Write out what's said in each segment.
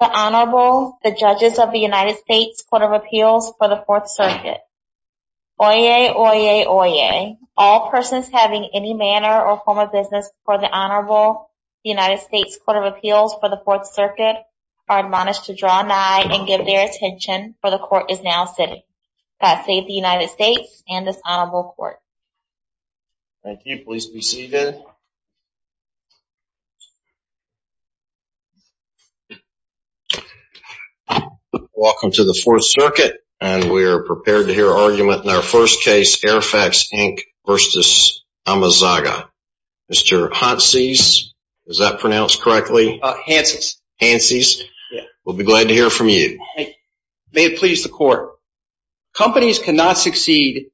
The Honorable, the Judges of the United States Court of Appeals for the Fourth Circuit. Oyez, oyez, oyez, all persons having any manner or form of business before the Honorable United States Court of Appeals for the Fourth Circuit are admonished to draw nigh and give their final sitting. God save the United States and this Honorable Court. Thank you, please be seated. Welcome to the Fourth Circuit, and we are prepared to hear argument in our first case, AirFacts, Inc. v. Amezaga. Mr. Hanses, is that pronounced correctly? Hanses. Hanses. Yes. We'll be glad to hear from you. May it please the Court. Companies cannot succeed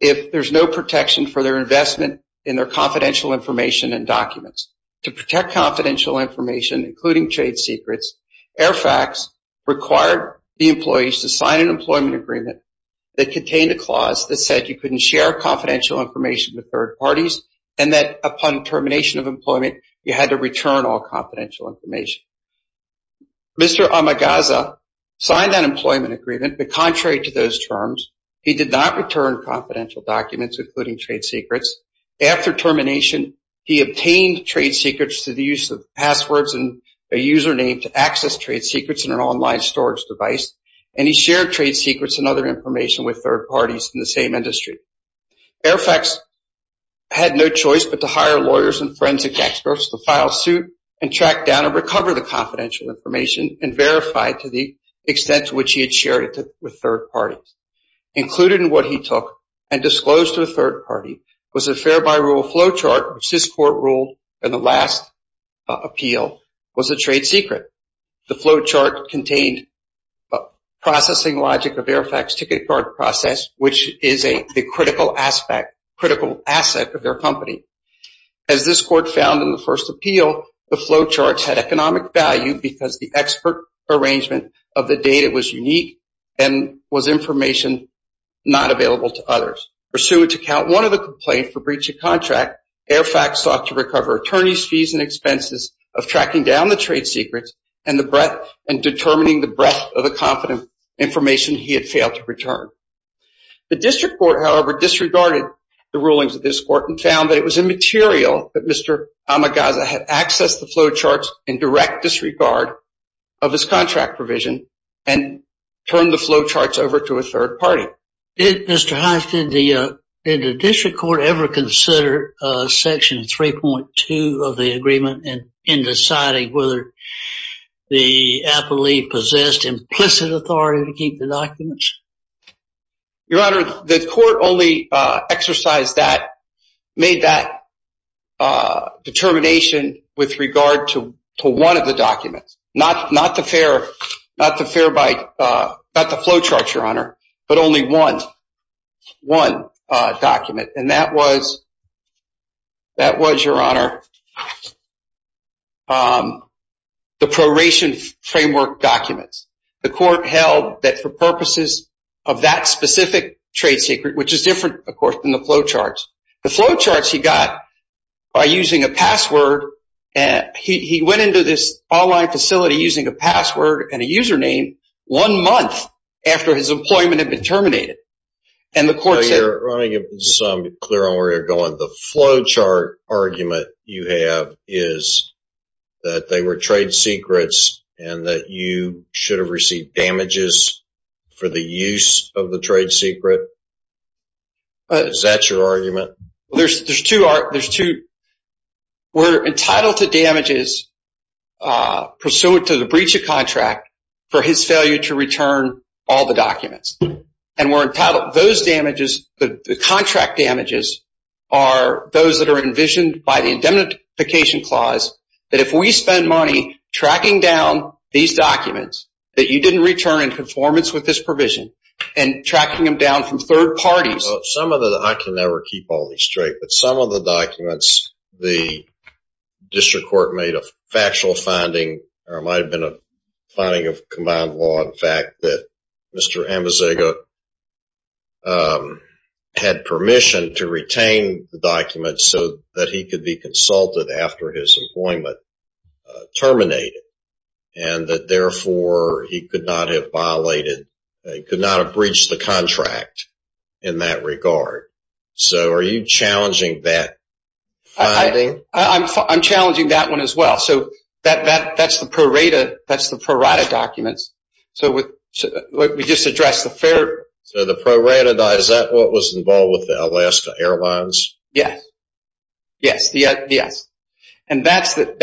if there's no protection for their investment in their confidential information and documents. To protect confidential information, including trade secrets, AirFacts required the employees to sign an employment agreement that contained a clause that said you couldn't share confidential information with third parties, and that upon termination of employment, you had to return all confidential information. Mr. Amezaga signed that employment agreement, but contrary to those terms, he did not return confidential documents, including trade secrets. After termination, he obtained trade secrets through the use of passwords and a username to access trade secrets in an online storage device, and he shared trade secrets and other information with third parties in the same industry. AirFacts had no choice but to hire lawyers and forensic experts to file suit and track down and recover the confidential information and verify to the extent to which he had shared it with third parties. Included in what he took and disclosed to a third party was a fair by rule flowchart, which this Court ruled in the last appeal was a trade secret. The flowchart contained processing logic of AirFacts' ticket card process, which is a economic value because the expert arrangement of the data was unique and was information not available to others. Pursuant to count one of the complaints for breach of contract, AirFacts sought to recover attorneys' fees and expenses of tracking down the trade secrets and determining the breadth of the confidential information he had failed to return. The District Court, however, disregarded the rulings of this Court and found that it was in direct disregard of his contract provision and turned the flowcharts over to a third party. Did the District Court ever consider Section 3.2 of the agreement in deciding whether the appellee possessed implicit authority to keep the documents? Your Honor, the Court only exercised that determination with regard to one of the documents, not the flowchart, but only one document, and that was the proration framework document. The Court held that for purposes of that specific trade secret, which is different, of course, than the flowcharts, the flowcharts he got by using a password. He went into this online facility using a password and a username one month after his employment had been terminated. And the Court said... Your Honor, I want to get some clarity on where you're going. The flowchart argument you have is that they were trade secrets and that you should have received damages for the use of the trade secret. Is that your argument? There's two. We're entitled to damages pursuant to the breach of contract for his failure to return all the documents. And we're entitled... Those damages, the contract damages, are those that are envisioned by the indemnification clause, that if we spend money tracking down these documents, that you didn't return in conformance with this provision, and tracking them down from third parties... Some of the... I can never keep all these straight, but some of the documents, the District Court made a factual finding, or it might have been a finding of combined law, in fact, that Mr. Amasego had permission to retain the documents so that he could be consulted after his employment terminated. And that, therefore, he could not have violated, could not have breached the contract in that regard. So are you challenging that finding? I'm challenging that one as well. So that's the pro rata documents. So we just addressed the fair... So the pro rata, is that what was involved with the Alaska Airlines? Yes. Yes. And that's the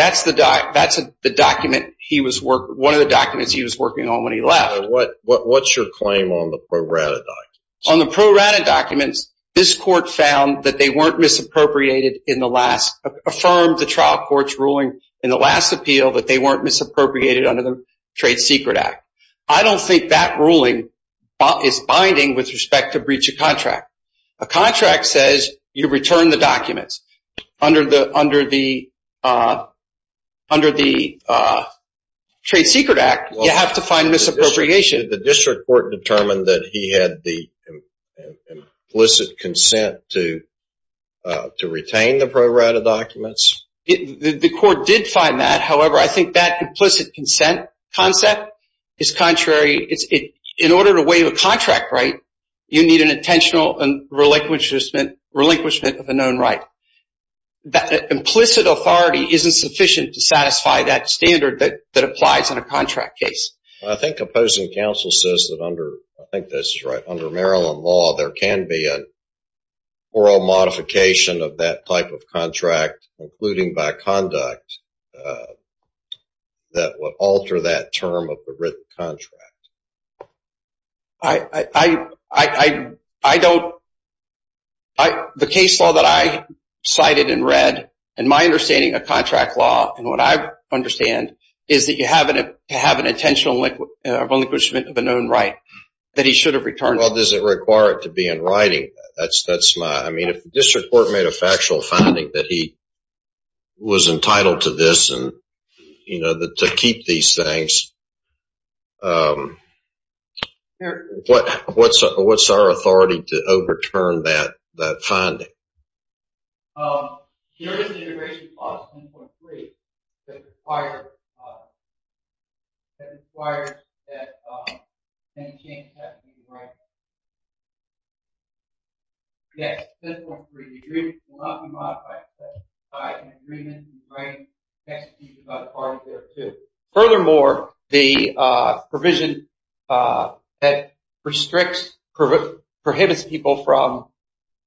document he was working... One of the documents he was working on when he left. So what's your claim on the pro rata documents? On the pro rata documents, this court found that they weren't misappropriated in the last... Affirmed the trial court's ruling in the last appeal that they weren't misappropriated under the Trade Secret Act. I don't think that ruling is binding with respect to breach of contract. A contract says you return the documents. Under the Trade Secret Act, you have to find misappropriation. Did the district court determine that he had the implicit consent to retain the pro rata documents? The court did find that. However, I think that implicit consent concept is contrary. In order to waive a contract right, you need an intentional relinquishment of a known right. That implicit authority isn't sufficient to satisfy that standard that applies in a contract case. I think opposing counsel says that under... I think this is right. Under Maryland law, there can be an oral modification of that type of contract, including by conduct, that would alter that term of the written contract. I don't... The case law that I cited and read, in my understanding of contract law, is that you have to have an intentional relinquishment of a known right that he should have returned. Does it require it to be in writing? If the district court made a factual finding that he was entitled to this and to keep these things, what's our authority to overturn that finding? Here is the integration clause, 10.3, that requires that any changes have to be in writing. Yes, 10.3, the agreement will not be modified to satisfy an agreement in writing. It has to be by the parties there, too. Furthermore, the provision that restricts... prohibits people from...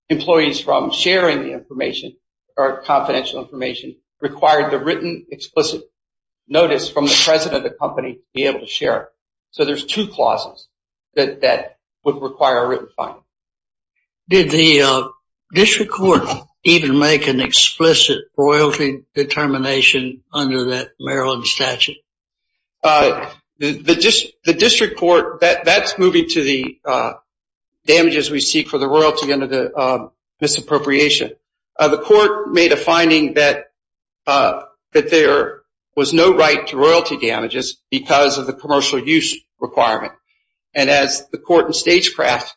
employees from sharing the information or confidential information required the written explicit notice from the president of the company to be able to share it. So there's two clauses that would require a written finding. Did the district court even make an explicit royalty determination under that Maryland statute? The district court... that's moving to the damages we seek for the royalty under the misappropriation. The court made a finding that there was no right to royalty damages because of the commercial use requirement. And as the court in Stagecraft,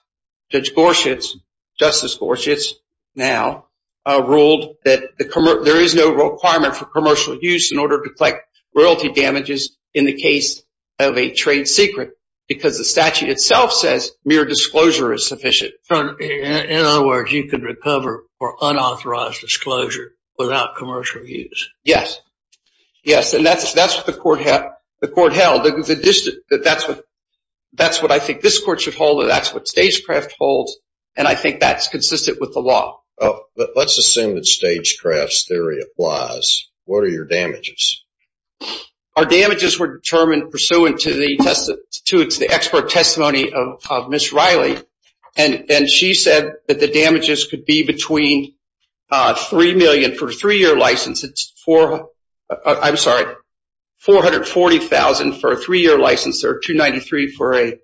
Judge Gorshitz, Justice Gorshitz now, ruled that there is no requirement for commercial use in order to collect royalty damages in the case of a trade secret because the statute itself says mere disclosure is sufficient. In other words, you can recover for unauthorized disclosure without commercial use. Yes. Yes, and that's what the court held. That's what I think this court should hold, and that's what Stagecraft holds, and I think that's consistent with the law. Let's assume that Stagecraft's theory applies. What are your damages? Our damages were determined pursuant to the expert testimony of Ms. Riley, and she said that the damages could be between $3 million for a three-year license. It's $440,000 for a three-year license or $293,000 for a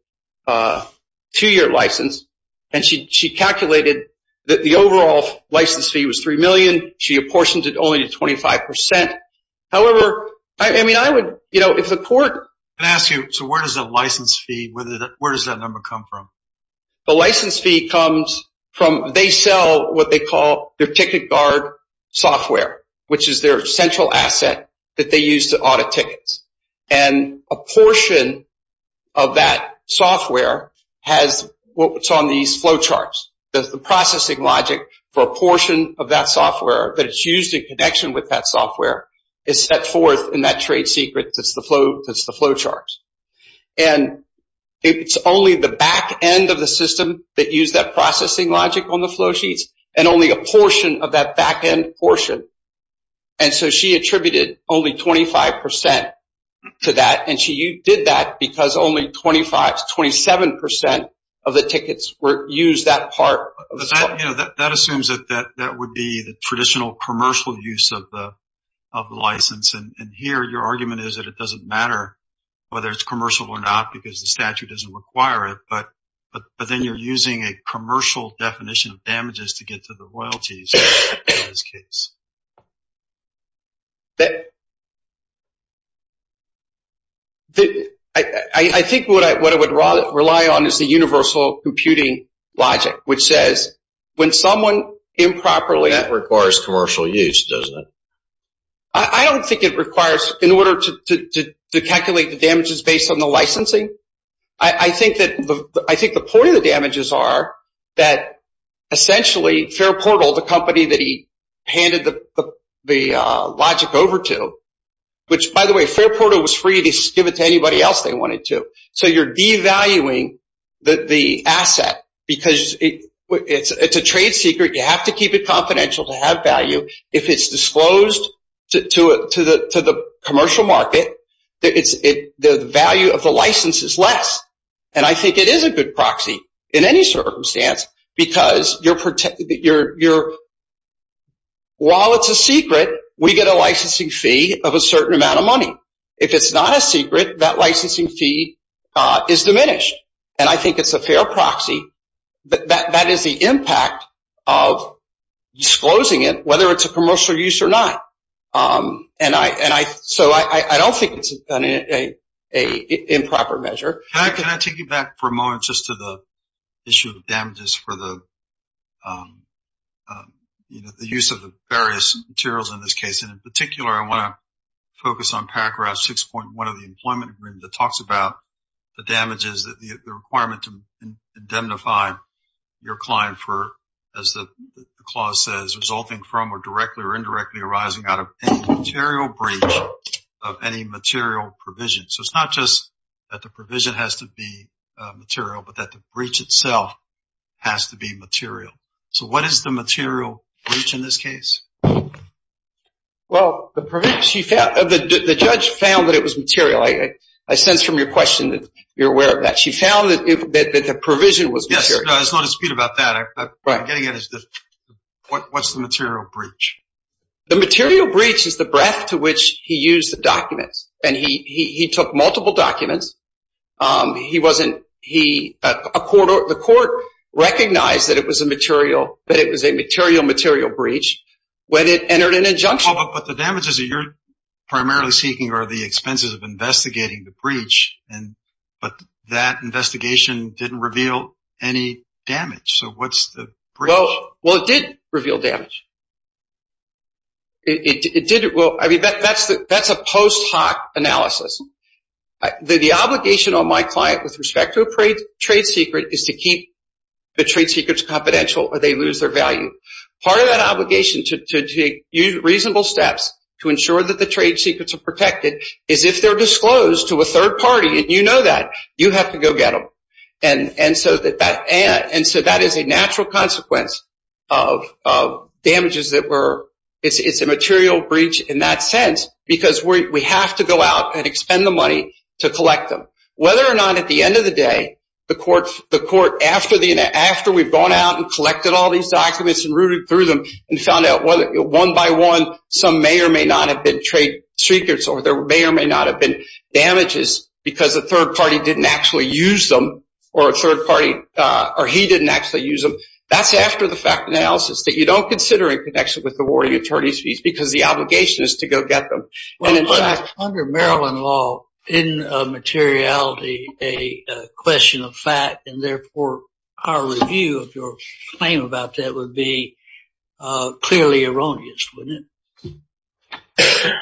two-year license, and she calculated that the overall license fee was $3 million. She apportioned it only to 25%. However, I mean, I would, you know, if the court— Can I ask you, so where does that license fee, where does that number come from? The license fee comes from—they sell what they call their ticket guard software, which is their central asset that they use to audit tickets, and a portion of that software has what's on these flow charts. The processing logic for a portion of that software that is used in connection with that software is set forth in that trade secret that's the flow charts. And it's only the back end of the system that use that processing logic on the flow sheets and only a portion of that back end portion. And so she attributed only 25% to that, and she did that because only 25% to 27% of the tickets were used that part. That assumes that that would be the traditional commercial use of the license, and here your argument is that it doesn't matter whether it's commercial or not because the statute doesn't require it, but then you're using a commercial definition of damages to get to the royalties in this case. I think what I would rely on is the universal computing logic, which says when someone improperly— That requires commercial use, doesn't it? I don't think it requires—in order to calculate the damages based on the licensing, I think the point of the damages are that essentially Fairport, the company that he handed the logic over to, which by the way Fairport was free to give it to anybody else they wanted to. So you're devaluing the asset because it's a trade secret. You have to keep it confidential to have value. If it's disclosed to the commercial market, the value of the license is less, and I think it is a good proxy in any circumstance because while it's a secret, we get a licensing fee of a certain amount of money. If it's not a secret, that licensing fee is diminished, and I think it's a fair proxy. That is the impact of disclosing it, whether it's a commercial use or not. So I don't think it's an improper measure. Pat, can I take you back for a moment just to the issue of damages for the use of the various materials in this case, and in particular I want to focus on paragraph 6.1 of the employment agreement that talks about the damages, the requirement to indemnify your client for, as the clause says, resulting from or directly or indirectly arising out of any material breach of any material provision. So it's not just that the provision has to be material, but that the breach itself has to be material. So what is the material breach in this case? Well, the judge found that it was material. I sense from your question that you're aware of that. She found that the provision was material. Yes, there's no dispute about that. What I'm getting at is what's the material breach? The material breach is the breadth to which he used the documents, and he took multiple documents. The court recognized that it was a material breach when it entered an injunction. But the damages that you're primarily seeking are the expenses of investigating the breach, but that investigation didn't reveal any damage. So what's the breach? Well, it did reveal damage. It did. Well, I mean, that's a post hoc analysis. The obligation on my client with respect to a trade secret is to keep the trade secrets confidential or they lose their value. Part of that obligation to take reasonable steps to ensure that the trade secrets are protected is if they're disclosed to a third party, and you know that, you have to go get them. And so that is a natural consequence of damages that were – it's a material breach in that sense because we have to go out and expend the money to collect them. Whether or not at the end of the day the court, after we've gone out and collected all these documents and rooted through them and found out one by one some may or may not have been trade secrets or there may or may not have been damages because a third party didn't actually use them or a third party or he didn't actually use them, that's after the fact analysis that you don't consider in connection with the warning attorney's fees because the obligation is to go get them. Under Maryland law, isn't materiality a question of fact, and therefore our review of your claim about that would be clearly erroneous, wouldn't it?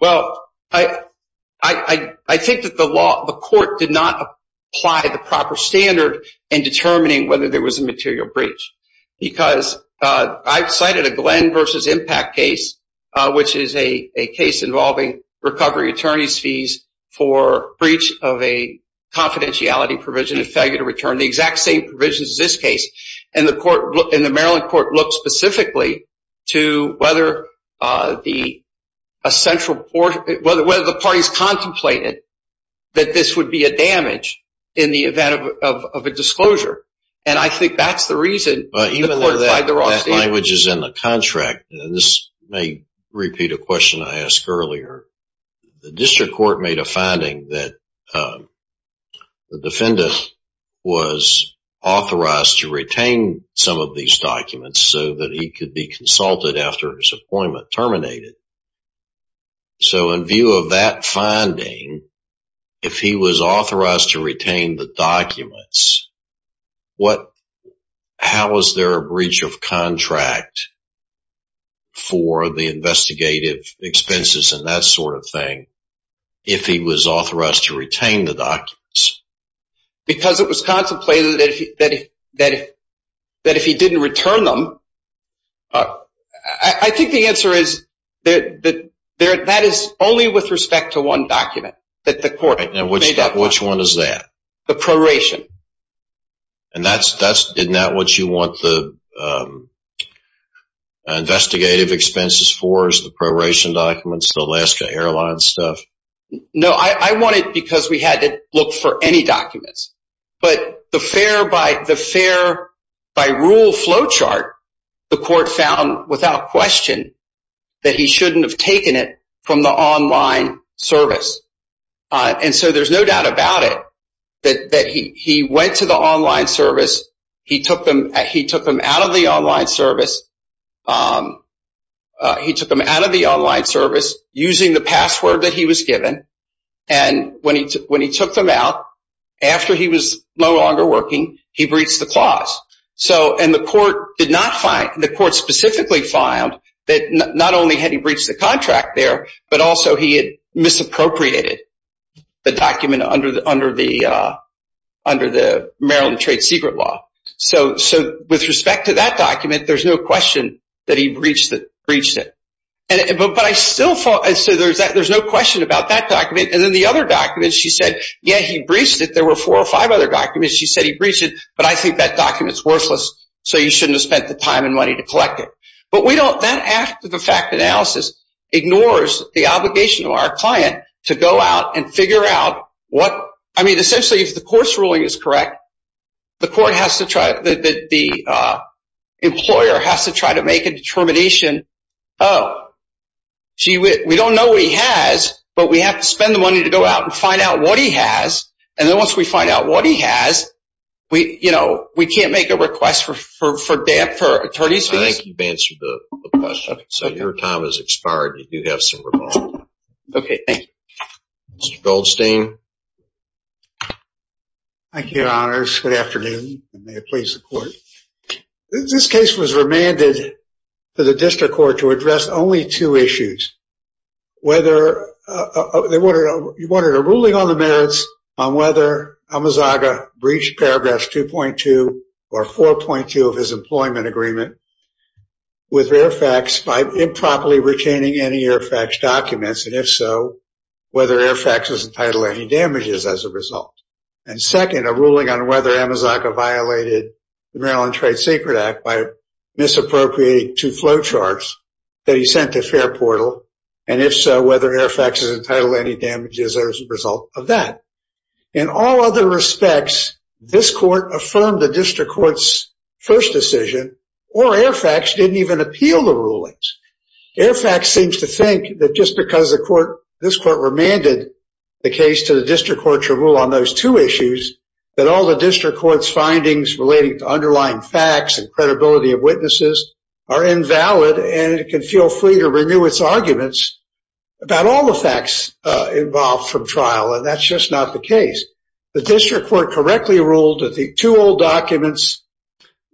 Well, I think that the law, the court did not apply the proper standard in determining whether there was a material breach because I've cited a Glenn v. Impact case, which is a case involving recovery attorney's fees for breach of a confidentiality provision and failure to return the exact same provisions as this case. And the Maryland court looked specifically to whether the parties contemplated that this would be a damage in the event of a disclosure. And I think that's the reason the court applied the wrong standard. But even though that language is in the contract, and this may repeat a question I asked earlier, the district court made a finding that the defendant was authorized to retain some of these documents so that he could be consulted after his appointment terminated. So in view of that finding, if he was authorized to retain the documents, how is there a breach of contract for the investigative expenses? And that sort of thing, if he was authorized to retain the documents. Because it was contemplated that if he didn't return them, I think the answer is that that is only with respect to one document that the court made up. Which one is that? The proration. And isn't that what you want the investigative expenses for, the proration documents, the Alaska Airlines stuff? No, I want it because we had to look for any documents. But the fair by rule flow chart, the court found without question that he shouldn't have taken it from the online service. And so there's no doubt about it that he went to the online service. He took them out of the online service. He took them out of the online service using the password that he was given. And when he took them out, after he was no longer working, he breached the clause. And the court specifically found that not only had he breached the contract there, but also he had misappropriated the document under the Maryland trade secret law. So with respect to that document, there's no question that he breached it. But I still thought – so there's no question about that document. And then the other document, she said, yeah, he breached it. There were four or five other documents. She said he breached it, but I think that document's worthless, so you shouldn't have spent the time and money to collect it. But that active effect analysis ignores the obligation of our client to go out and figure out what – I mean, essentially, if the course ruling is correct, the court has to try – the employer has to try to make a determination, oh, gee, we don't know what he has, but we have to spend the money to go out and find out what he has. And then once we find out what he has, we can't make a request for attorneys fees. I think you've answered the question. So your time has expired. You do have some remorse. Okay, thank you. Mr. Goldstein. Thank you, Your Honors. Good afternoon, and may it please the Court. This case was remanded to the district court to address only two issues, whether – you wanted a ruling on the merits on whether Amazaga breached Paragraphs 2.2 or 4.2 of his employment agreement with Airfax by improperly retaining any Airfax documents, and if so, whether Airfax was entitled to any damages as a result. And second, a ruling on whether Amazaga violated the Maryland Trade Secret Act by misappropriating two flow charts that he sent to Fairportal, and if so, whether Airfax is entitled to any damages as a result of that. In all other respects, this court affirmed the district court's first decision, or Airfax didn't even appeal the ruling. Airfax seems to think that just because this court remanded the case to the district court to rule on those two issues, that all the district court's findings relating to underlying facts and credibility of witnesses are invalid, and it can feel free to renew its arguments about all the facts involved from trial, and that's just not the case. The district court correctly ruled that the two old documents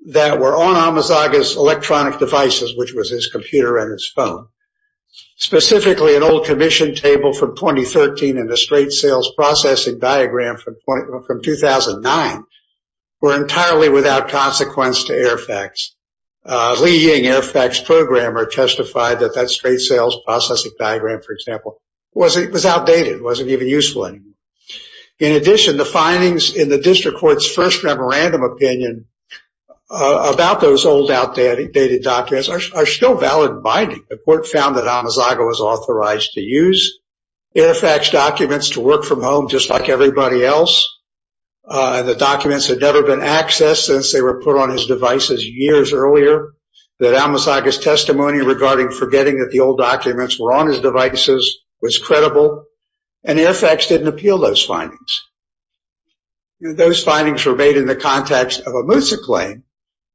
that were on Amazaga's electronic devices, which was his computer and his phone, specifically an old commission table from 2013 and a straight sales processing diagram from 2009, were entirely without consequence to Airfax. Lee Ying, Airfax programmer, testified that that straight sales processing diagram, for example, was outdated. It wasn't even useful anymore. In addition, the findings in the district court's first memorandum opinion about those old outdated documents are still valid binding. The court found that Amazaga was authorized to use Airfax documents to work from home just like everybody else. The documents had never been accessed since they were put on his devices years earlier, that Amazaga's testimony regarding forgetting that the old documents were on his devices was credible, and Airfax didn't appeal those findings. Those findings were made in the context of a Moosa claim,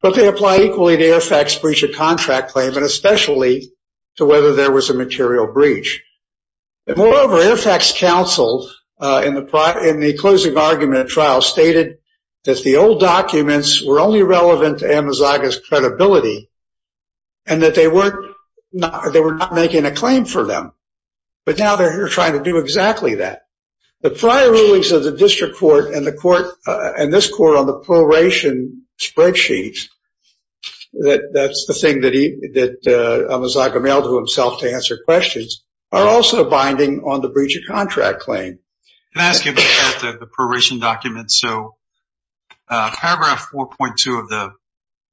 but they apply equally to Airfax breach of contract claim and especially to whether there was a material breach. Moreover, Airfax counsel in the closing argument trial stated that the old documents were only relevant to Amazaga's credibility and that they were not making a claim for them, but now they're trying to do exactly that. The prior rulings of the district court and this court on the proration spreadsheet, that's the thing that Amazaga mailed to himself to answer questions, are also binding on the breach of contract claim. Can I ask you about the proration documents? So paragraph 4.2 of the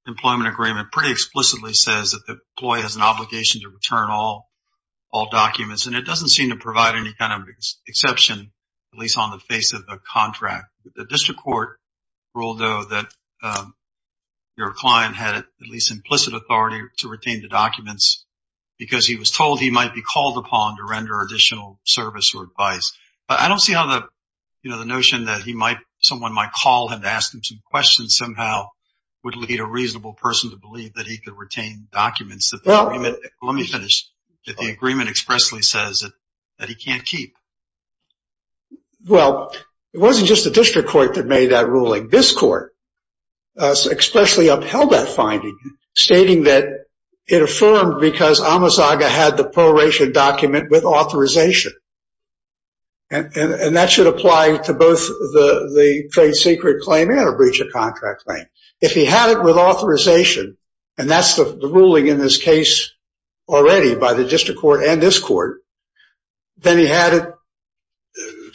employment agreement pretty explicitly says that the employee has an obligation to return all documents, and it doesn't seem to provide any kind of exception, at least on the face of the contract. The district court ruled, though, that your client had at least implicit authority to retain the documents because he was told he might be called upon to render additional service or advice. But I don't see how the notion that someone might call him to ask him some questions somehow would lead a reasonable person to believe that he could retain documents. Let me finish. The agreement expressly says that he can't keep. Well, it wasn't just the district court that made that ruling. This court expressly upheld that finding, stating that it affirmed because Amazaga had the proration document with authorization, and that should apply to both the trade secret claim and a breach of contract claim. If he had it with authorization, and that's the ruling in this case already by the district court and this court, then he had it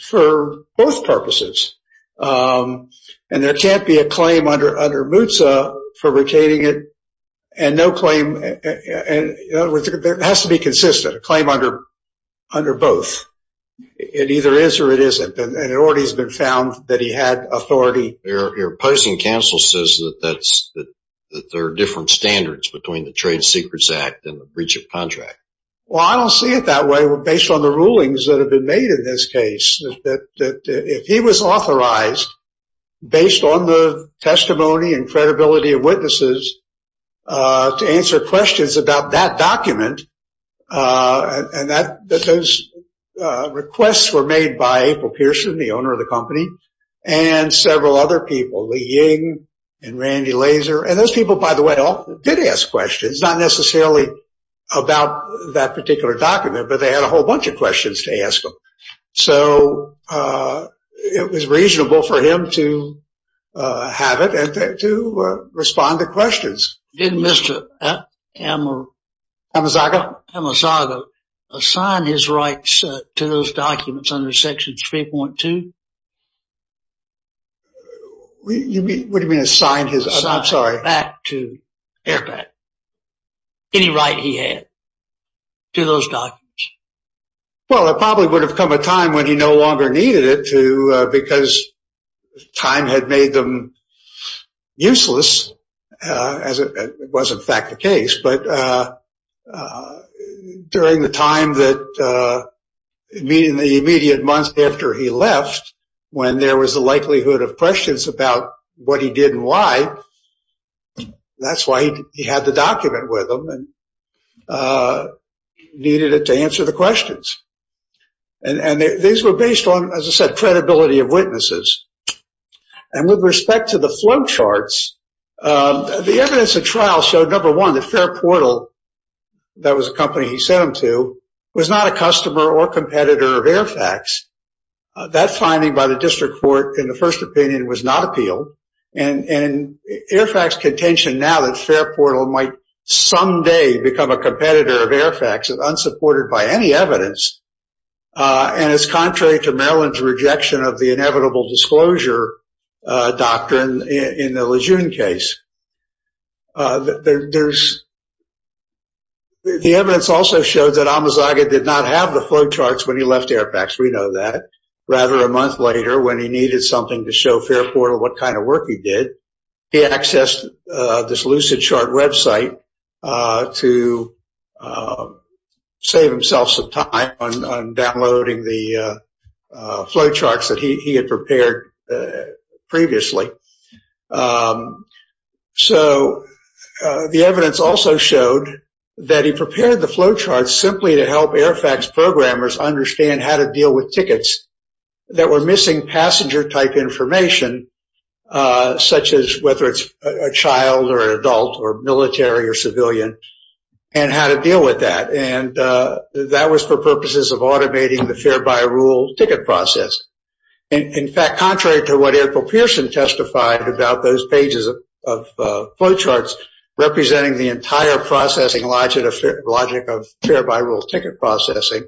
for both purposes. And there can't be a claim under MUTSA for retaining it and no claim. It has to be consistent, a claim under both. It either is or it isn't, and it already has been found that he had authority. Your opposing counsel says that there are different standards between the Trade Secrets Act and the breach of contract. Well, I don't see it that way based on the rulings that have been made in this case, that if he was authorized based on the testimony and credibility of witnesses to answer questions about that document, and that those requests were made by April Pearson, the owner of the company, and several other people, Lee Ying and Randy Lazor. And those people, by the way, all did ask questions, not necessarily about that particular document, but they had a whole bunch of questions to ask them. So it was reasonable for him to have it and to respond to questions. Did Mr. Amasago assign his rights to those documents under Section 3.2? What do you mean assign his? I'm sorry. Assign his rights back to AIRPAC, any right he had to those documents. Well, it probably would have come a time when he no longer needed it, too, because time had made them useless, as it was, in fact, the case. But during the time that, in the immediate months after he left, when there was the likelihood of questions about what he did and why, that's why he had the document with him and needed it to answer the questions. And these were based on, as I said, credibility of witnesses. And with respect to the flowcharts, the evidence of trial showed, number one, that Fairportal, that was a company he sent them to, was not a customer or competitor of AIRPAC's. That finding by the district court, in the first opinion, was not appealed. And AIRPAC's contention now that Fairportal might someday become a competitor of AIRPAC's is unsupported by any evidence. And it's contrary to Maryland's rejection of the inevitable disclosure doctrine in the Lejeune case. The evidence also showed that Amazaga did not have the flowcharts when he left AIRPAC's. We know that. Rather, a month later, when he needed something to show Fairportal what kind of work he did, he accessed this Lucidchart website to save himself some time on downloading the flowcharts that he had prepared previously. So the evidence also showed that he prepared the flowcharts simply to help AIRPAC's programmers understand how to deal with tickets that were missing passenger-type information, such as whether it's a child or an adult or military or civilian, and how to deal with that. And that was for purposes of automating the fare-by-rule ticket process. In fact, contrary to what April Pearson testified about those pages of flowcharts, representing the entire processing logic of fare-by-rule ticket processing,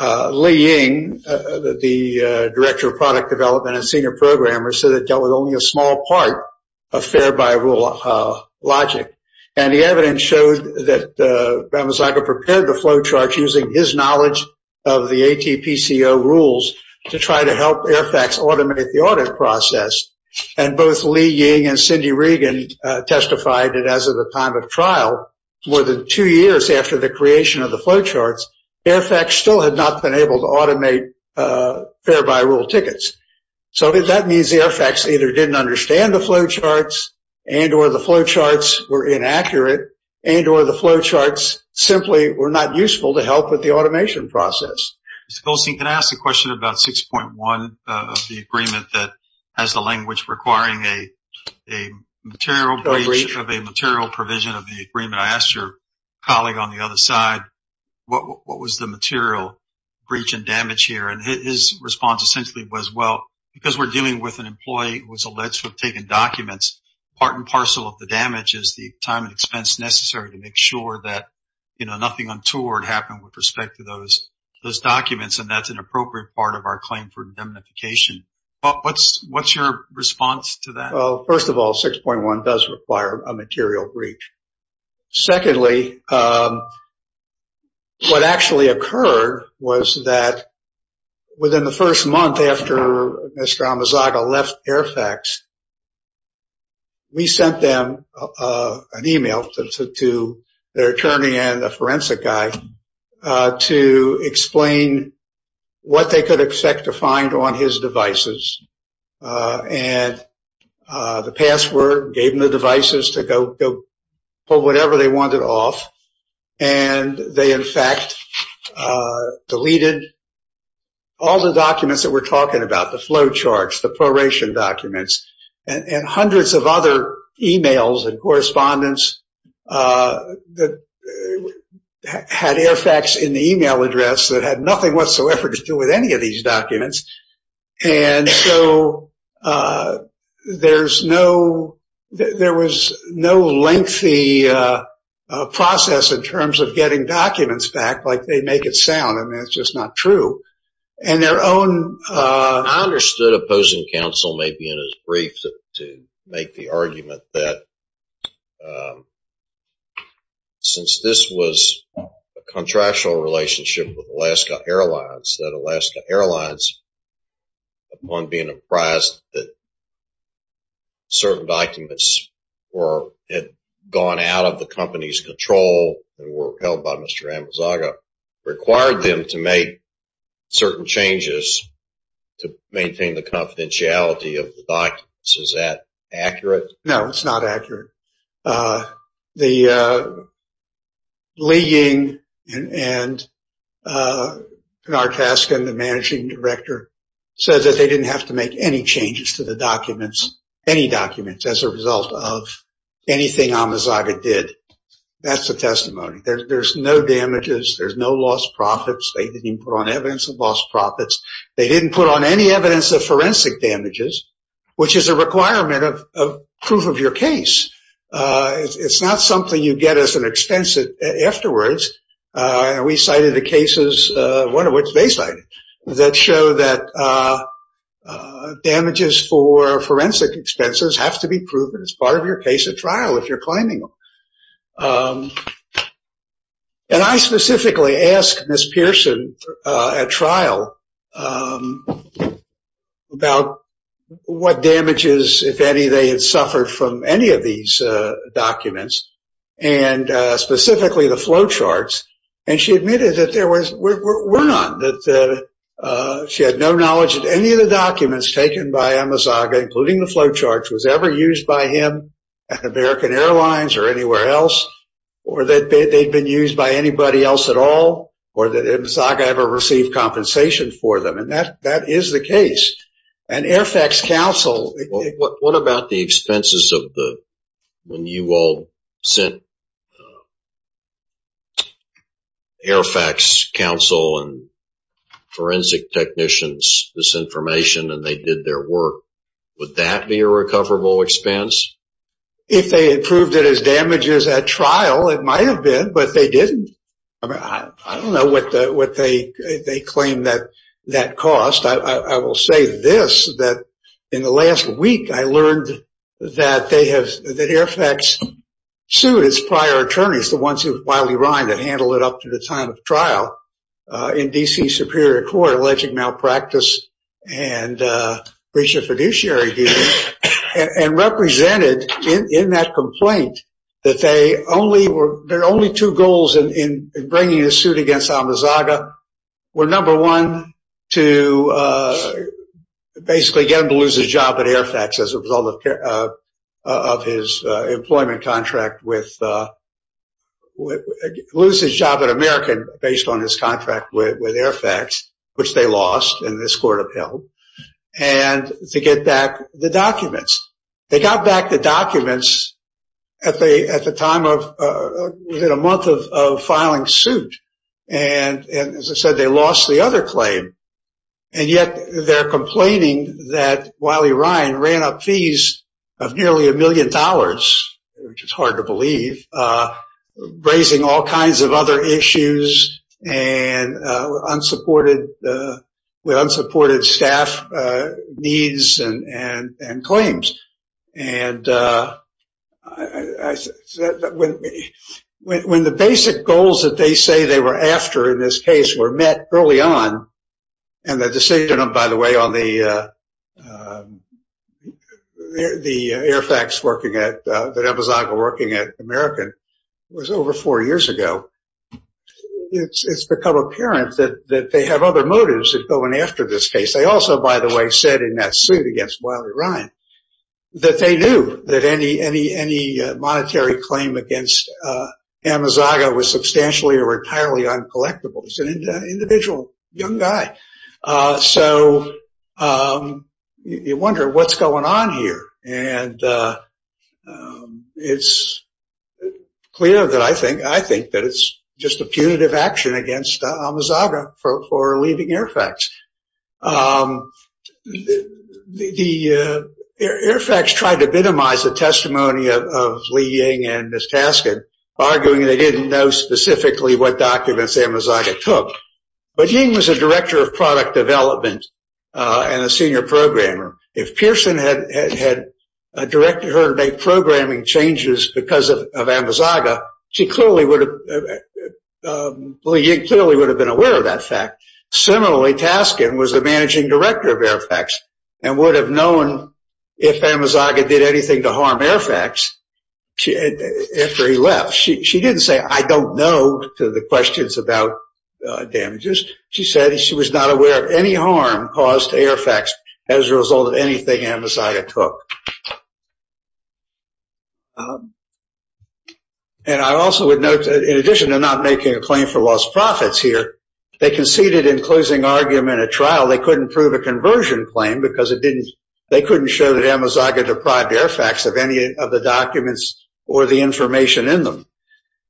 Li Ying, the director of product development and senior programmer, said it dealt with only a small part of fare-by-rule logic. And the evidence showed that Ramosaga prepared the flowcharts using his knowledge of the ATPCO rules to try to help AIRPAC automate the audit process. And both Li Ying and Cindy Regan testified that as of the time of trial, more than two years after the creation of the flowcharts, AIRPAC still had not been able to automate fare-by-rule tickets. So that means the AIRPACs either didn't understand the flowcharts and or the flowcharts were inaccurate and or the flowcharts simply were not useful to help with the automation process. Mr. Goldstein, can I ask a question about 6.1 of the agreement that has the language requiring a material breach of a material provision of the agreement? I asked your colleague on the other side, what was the material breach and damage here? And his response essentially was, well, because we're dealing with an employee who was alleged to have taken documents, part and parcel of the damage is the time and expense necessary to make sure that, you know, nothing untoward happened with respect to those documents. And that's an appropriate part of our claim for indemnification. What's your response to that? Well, first of all, 6.1 does require a material breach. Secondly, what actually occurred was that within the first month after Mr. Amazaga left AIRPACs, we sent them an e-mail to their attorney and a forensic guy to explain what they could expect to find on his devices. And the password gave them the devices to go pull whatever they wanted off. And they, in fact, deleted all the documents that we're talking about, the flow charts, the proration documents, and hundreds of other e-mails and correspondence that had AIRPACs in the e-mail address that had nothing whatsoever to do with any of these documents. And so there's no – there was no lengthy process in terms of getting documents back like they make it sound, and that's just not true. And their own – I understood opposing counsel maybe in his brief to make the argument that since this was a contractual relationship with Alaska Airlines, that Alaska Airlines, upon being apprised that certain documents had gone out of the company's control and were held by Mr. Amazaga, required them to make certain changes to maintain the confidentiality of the documents. Is that accurate? No, it's not accurate. The – Lee Ying and our task and the managing director said that they didn't have to make any changes to the documents, any documents as a result of anything Amazaga did. That's the testimony. There's no damages. There's no lost profits. They didn't put on evidence of lost profits. They didn't put on any evidence of forensic damages, which is a requirement of proof of your case. It's not something you get as an expense afterwards. And we cited the cases, one of which they cited, that show that damages for forensic expenses have to be proven as part of your case at trial if you're claiming them. And I specifically asked Ms. Pearson at trial about what damages, if any, they had suffered from any of these documents, and specifically the flowcharts. And she admitted that there were none, that she had no knowledge that any of the documents taken by Amazaga, including the flowcharts, was ever used by him at American Airlines or anywhere else, or that they'd been used by anybody else at all, or that Amazaga ever received compensation for them. And that is the case. And AIRFAX counsel – What about the expenses of when you all sent AIRFAX counsel and forensic technicians this information and they did their work? Would that be a recoverable expense? If they had proved it as damages at trial, it might have been, but they didn't. I don't know what they claim that cost. I will say this, that in the last week I learned that AIRFAX sued its prior attorneys, the ones with Wiley-Rind that handled it up to the time of trial in D.C. Superior Court, alleging malpractice and breach of fiduciary duty, and represented in that complaint that their only two goals in bringing a suit against Amazaga were, number one, to basically get him to lose his job at AIRFAX as a result of his employment contract with – lose his job at American based on his contract with AIRFAX, which they lost and this court upheld, and to get back the documents. They got back the documents at the time of – within a month of filing suit, and as I said, they lost the other claim, and yet they're complaining that Wiley-Rind ran up fees of nearly a million dollars, which is hard to believe, raising all kinds of other issues and unsupported – with unsupported staff needs and claims. And when the basic goals that they say they were after in this case were met early on, and the decision, by the way, on the AIRFAX working at – that Amazaga working at American was over four years ago, it's become apparent that they have other motives in going after this case. They also, by the way, said in that suit against Wiley-Rind that they knew that any monetary claim against Amazaga was substantially or entirely uncollectible. He's an individual young guy. So you wonder what's going on here, and it's clear that I think – I think that it's just a punitive action against Amazaga for leaving AIRFAX. The AIRFAX tried to minimize the testimony of Lee Ying and Ms. Taskin, arguing they didn't know specifically what documents Amazaga took. But Ying was a director of product development and a senior programmer. If Pearson had directed her to make programming changes because of Amazaga, she clearly would have – Lee Ying clearly would have been aware of that fact. Similarly, Taskin was the managing director of AIRFAX and would have known if Amazaga did anything to harm AIRFAX after he left. She didn't say, I don't know, to the questions about damages. She said she was not aware of any harm caused to AIRFAX as a result of anything Amazaga took. And I also would note that in addition to not making a claim for lost profits here, they conceded in closing argument at trial they couldn't prove a conversion claim because it didn't – they couldn't show that Amazaga deprived AIRFAX of any of the documents or the information in them.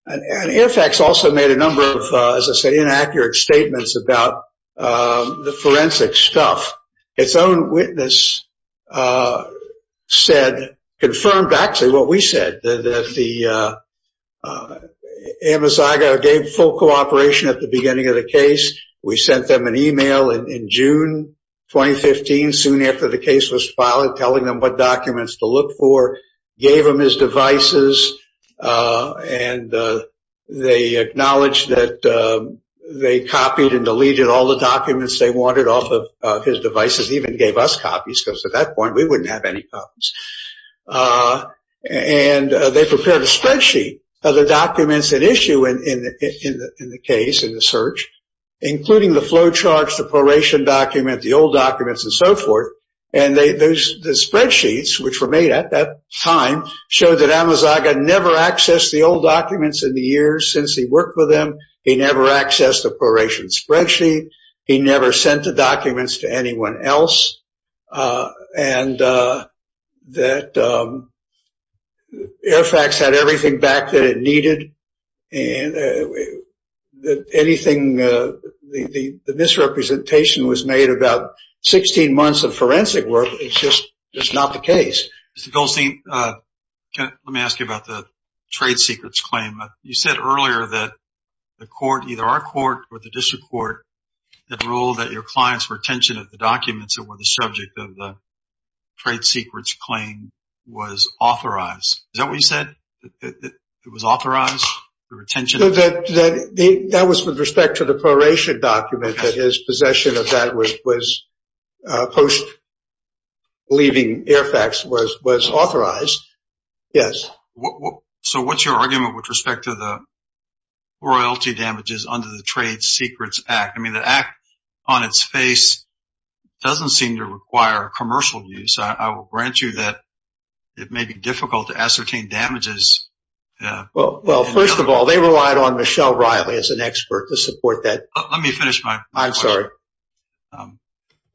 And AIRFAX also made a number of, as I said, inaccurate statements about the forensic stuff. Its own witness said – confirmed actually what we said, that Amazaga gave full cooperation at the beginning of the case. We sent them an email in June 2015, soon after the case was filed, telling them what documents to look for, gave them his devices, and they acknowledged that they copied and deleted all the documents they wanted off of his devices, even gave us copies because at that point we wouldn't have any copies. And they prepared a spreadsheet of the documents at issue in the case, in the search, including the flow charts, the proration document, the old documents, and so forth. And the spreadsheets, which were made at that time, showed that Amazaga never accessed the old documents in the years since he worked with them. He never accessed the proration spreadsheet. He never sent the documents to anyone else. And that AIRFAX had everything back that it needed. The misrepresentation was made about 16 months of forensic work. It's just not the case. Mr. Goldstein, let me ask you about the trade secrets claim. You said earlier that the court, either our court or the district court, had ruled that your client's retention of the documents that were the subject of the trade secrets claim was authorized. Is that what you said, that it was authorized, the retention? That was with respect to the proration document, that his possession of that post-leaving AIRFAX was authorized, yes. So what's your argument with respect to the royalty damages under the Trade Secrets Act? I mean, the act on its face doesn't seem to require commercial use. I will grant you that it may be difficult to ascertain damages. Well, first of all, they relied on Michelle Riley as an expert to support that. I'm sorry.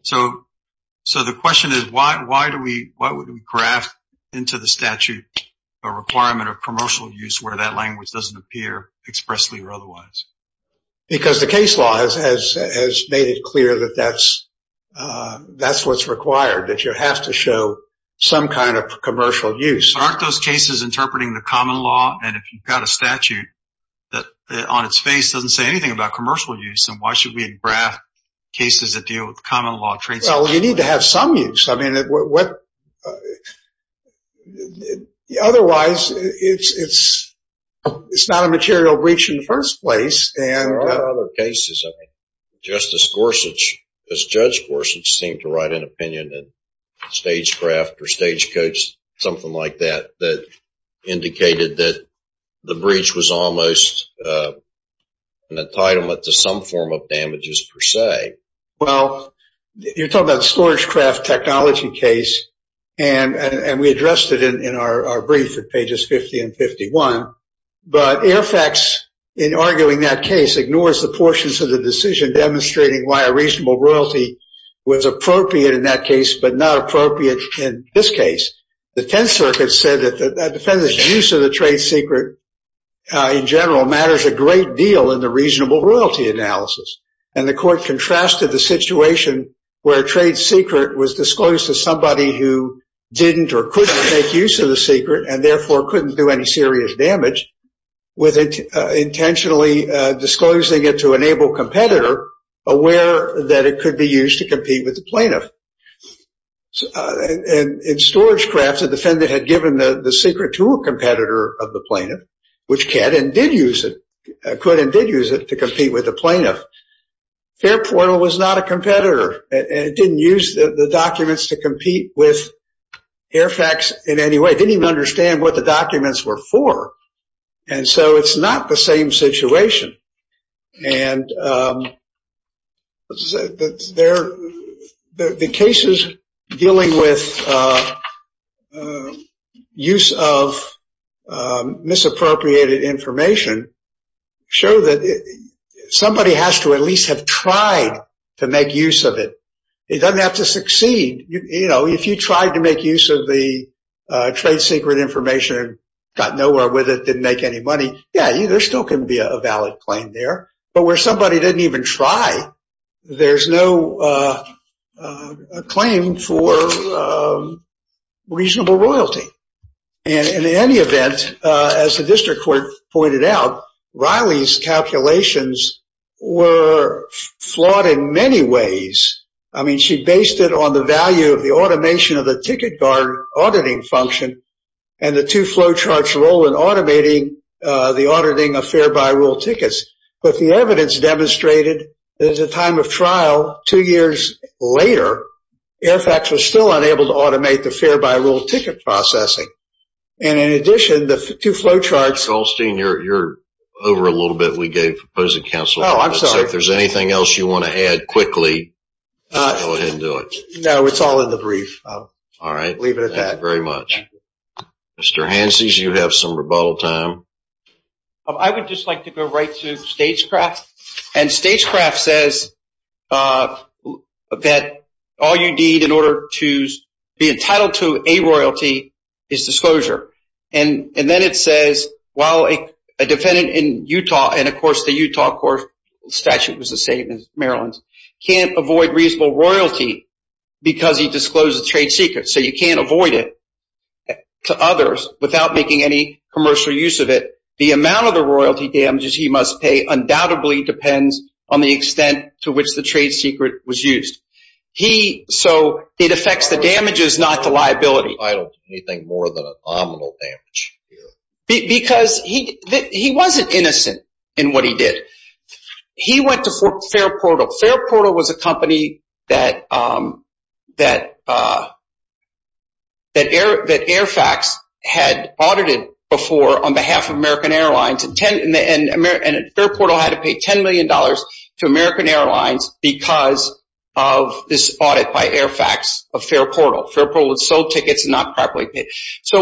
So the question is, why would we graft into the statute a requirement of commercial use where that language doesn't appear expressly or otherwise? Because the case law has made it clear that that's what's required, that you have to show some kind of commercial use. Aren't those cases interpreting the common law? And if you've got a statute that on its face doesn't say anything about commercial use, then why should we graft cases that deal with common law trades? Well, you need to have some use. I mean, otherwise, it's not a material breach in the first place. There are other cases. I mean, Justice Gorsuch, Judge Gorsuch seemed to write an opinion in Stagecraft or Stagecoach, something like that, that indicated that the breach was almost an entitlement to some form of damages per se. Well, you're talking about a storage craft technology case, and we addressed it in our brief at pages 50 and 51. But AIRFAX, in arguing that case, ignores the portions of the decision demonstrating why a reasonable royalty was appropriate in that case but not appropriate in this case. The Tenth Circuit said that the defendant's use of the trade secret, in general, matters a great deal in the reasonable royalty analysis. And the court contrasted the situation where a trade secret was disclosed to somebody who didn't or couldn't make use of the secret and, therefore, couldn't do any serious damage with intentionally disclosing it to an able competitor aware that it could be used to compete with the plaintiff. In storage crafts, the defendant had given the secret to a competitor of the plaintiff, which could and did use it to compete with the plaintiff. Fairportal was not a competitor. It didn't use the documents to compete with AIRFAX in any way. It didn't even understand what the documents were for. And so it's not the same situation. And the cases dealing with use of misappropriated information show that somebody has to at least have tried to make use of it. It doesn't have to succeed. You know, if you tried to make use of the trade secret information and got nowhere with it, didn't make any money, yeah, there still can be a valid claim there. But where somebody didn't even try, there's no claim for reasonable royalty. And in any event, as the district court pointed out, Riley's calculations were flawed in many ways. I mean, she based it on the value of the automation of the ticket guard auditing function and the two flowcharts role in automating the auditing of fare-by-rule tickets. But the evidence demonstrated that at the time of trial, two years later, AIRFAX was still unable to automate the fare-by-rule ticket processing. And in addition, the two flowcharts… Mr. Goldstein, you're over a little bit. We gave opposing counsel. Oh, I'm sorry. If there's anything else you want to add quickly, go ahead and do it. No, it's all in the brief. All right. I'll leave it at that. Thank you very much. Thank you. Mr. Hanses, you have some rebuttal time. I would just like to go right to Stagecraft. And Stagecraft says that all you need in order to be entitled to a royalty is disclosure. And then it says, while a defendant in Utah, and, of course, the Utah statute was the same as Maryland's, can't avoid reasonable royalty because he disclosed a trade secret. So you can't avoid it to others without making any commercial use of it. The amount of the royalty damages he must pay undoubtedly depends on the extent to which the trade secret was used. So it affects the damages, not the liability. I don't think anything more than a nominal damage here. Because he wasn't innocent in what he did. He went to Fairportal. Fairportal was a company that Airfax had audited before on behalf of American Airlines. And Fairportal had to pay $10 million to American Airlines because of this audit by Airfax of Fairportal. Fairportal had sold tickets and not properly paid. So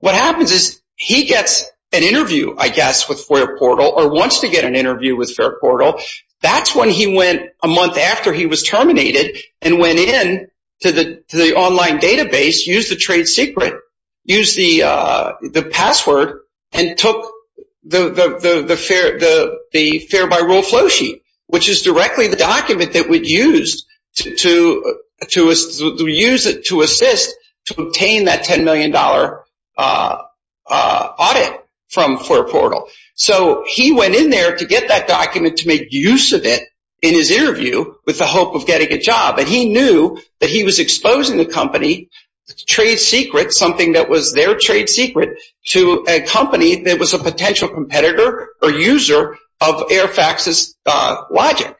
what happens is he gets an interview, I guess, with Fairportal or wants to get an interview with Fairportal. That's when he went a month after he was terminated and went in to the online database, used the trade secret, used the password, and took the fare-by-rule flow sheet, which is directly the document that we used to assist to obtain that $10 million audit from Fairportal. So he went in there to get that document to make use of it in his interview with the hope of getting a job. And he knew that he was exposing the company's trade secret, something that was their trade secret, to a company that was a potential competitor or user of Airfax's logic.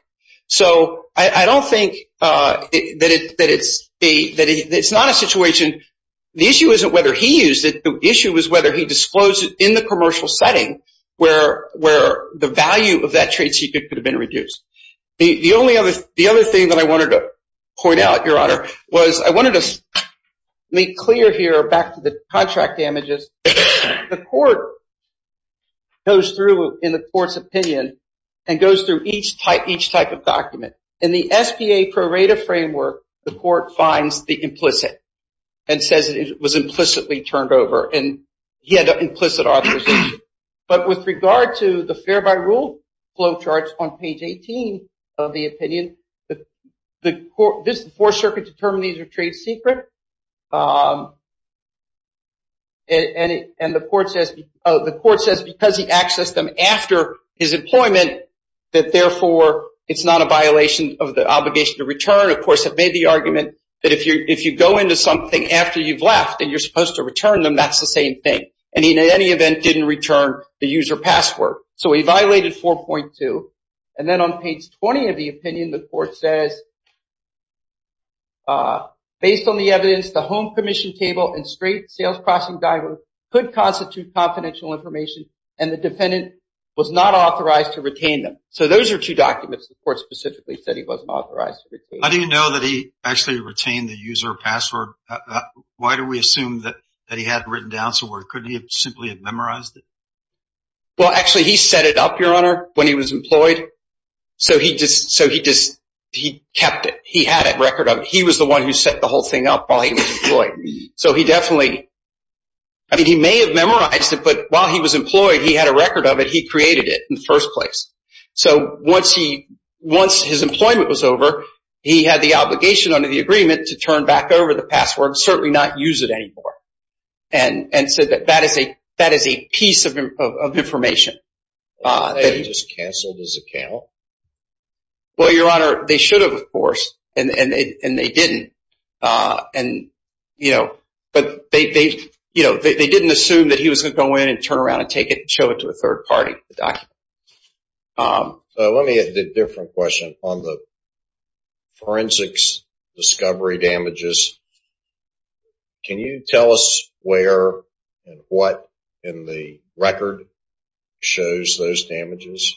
So I don't think that it's not a situation. The issue isn't whether he used it. The issue is whether he disclosed it in the commercial setting where the value of that trade secret could have been reduced. The other thing that I wanted to point out, Your Honor, was I wanted to make clear here, back to the contract damages, the court goes through, in the court's opinion, and goes through each type of document. In the SBA pro rata framework, the court finds the implicit and says it was implicitly turned over and he had an implicit authorization. But with regard to the fare-by-rule flowcharts on page 18 of the opinion, the Fourth Circuit determined these were trade secret. And the court says because he accessed them after his employment that, therefore, it's not a violation of the obligation to return. Of course, it made the argument that if you go into something after you've left and you're supposed to return them, that's the same thing. And he, in any event, didn't return the user password. So he violated 4.2. And then on page 20 of the opinion, the court says, based on the evidence, the home permission table and straight sales-crossing diver could constitute confidential information, and the defendant was not authorized to retain them. So those are two documents the court specifically said he wasn't authorized to retain. How do you know that he actually retained the user password? Why do we assume that he had it written down somewhere? Couldn't he have simply memorized it? Well, actually, he set it up, Your Honor, when he was employed. So he just kept it. He had a record of it. He was the one who set the whole thing up while he was employed. So he definitely – I mean, he may have memorized it, but while he was employed, he had a record of it. He created it in the first place. So once his employment was over, he had the obligation under the agreement to turn back over the password and certainly not use it anymore and said that that is a piece of information. That he just canceled his account? Well, Your Honor, they should have, of course, and they didn't. But they didn't assume that he was going to go in and turn around and take it and show it to a third party, the document. Let me ask a different question on the forensics discovery damages. Can you tell us where and what in the record shows those damages?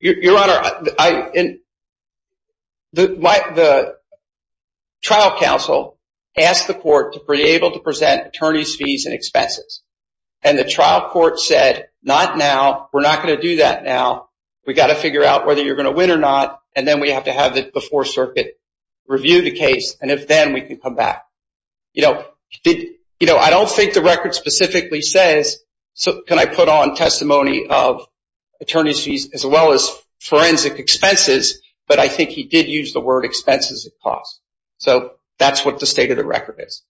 Your Honor, the trial counsel asked the court to be able to present attorney's fees and expenses. And the trial court said, not now. We're not going to do that now. We've got to figure out whether you're going to win or not, and then we have to have the Fourth Circuit review the case, and if then, we can come back. I don't think the record specifically says, can I put on testimony of attorney's fees as well as forensic expenses, but I think he did use the word expenses and costs. So that's what the state of the record is.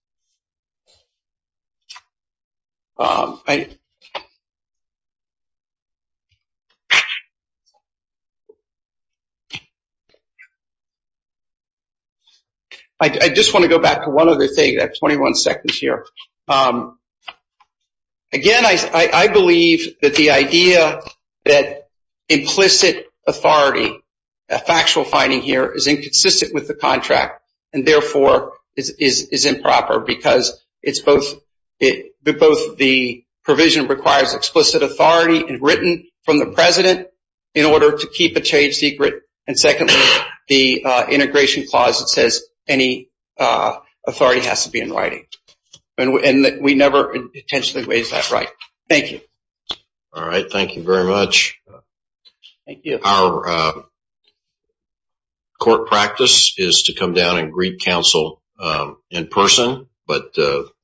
I just want to go back to one other thing. I have 21 seconds here. Again, I believe that the idea that implicit authority, a factual finding here, is inconsistent with the contract and, therefore, is improper, because both the provision requires explicit authority written from the president in order to keep a trade secret, and secondly, the integration clause that says any authority has to be in writing. And we never intentionally raised that right. Thank you. All right. Thank you very much. Thank you. Our court practice is to come down and greet counsel in person, but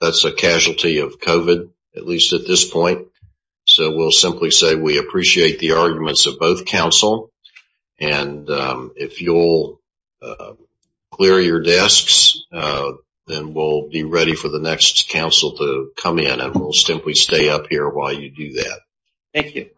that's a casualty of COVID, at least at this point. So we'll simply say we appreciate the arguments of both counsel, and if you'll clear your desks, then we'll be ready for the next counsel to come in, and we'll simply stay up here while you do that. Thank you.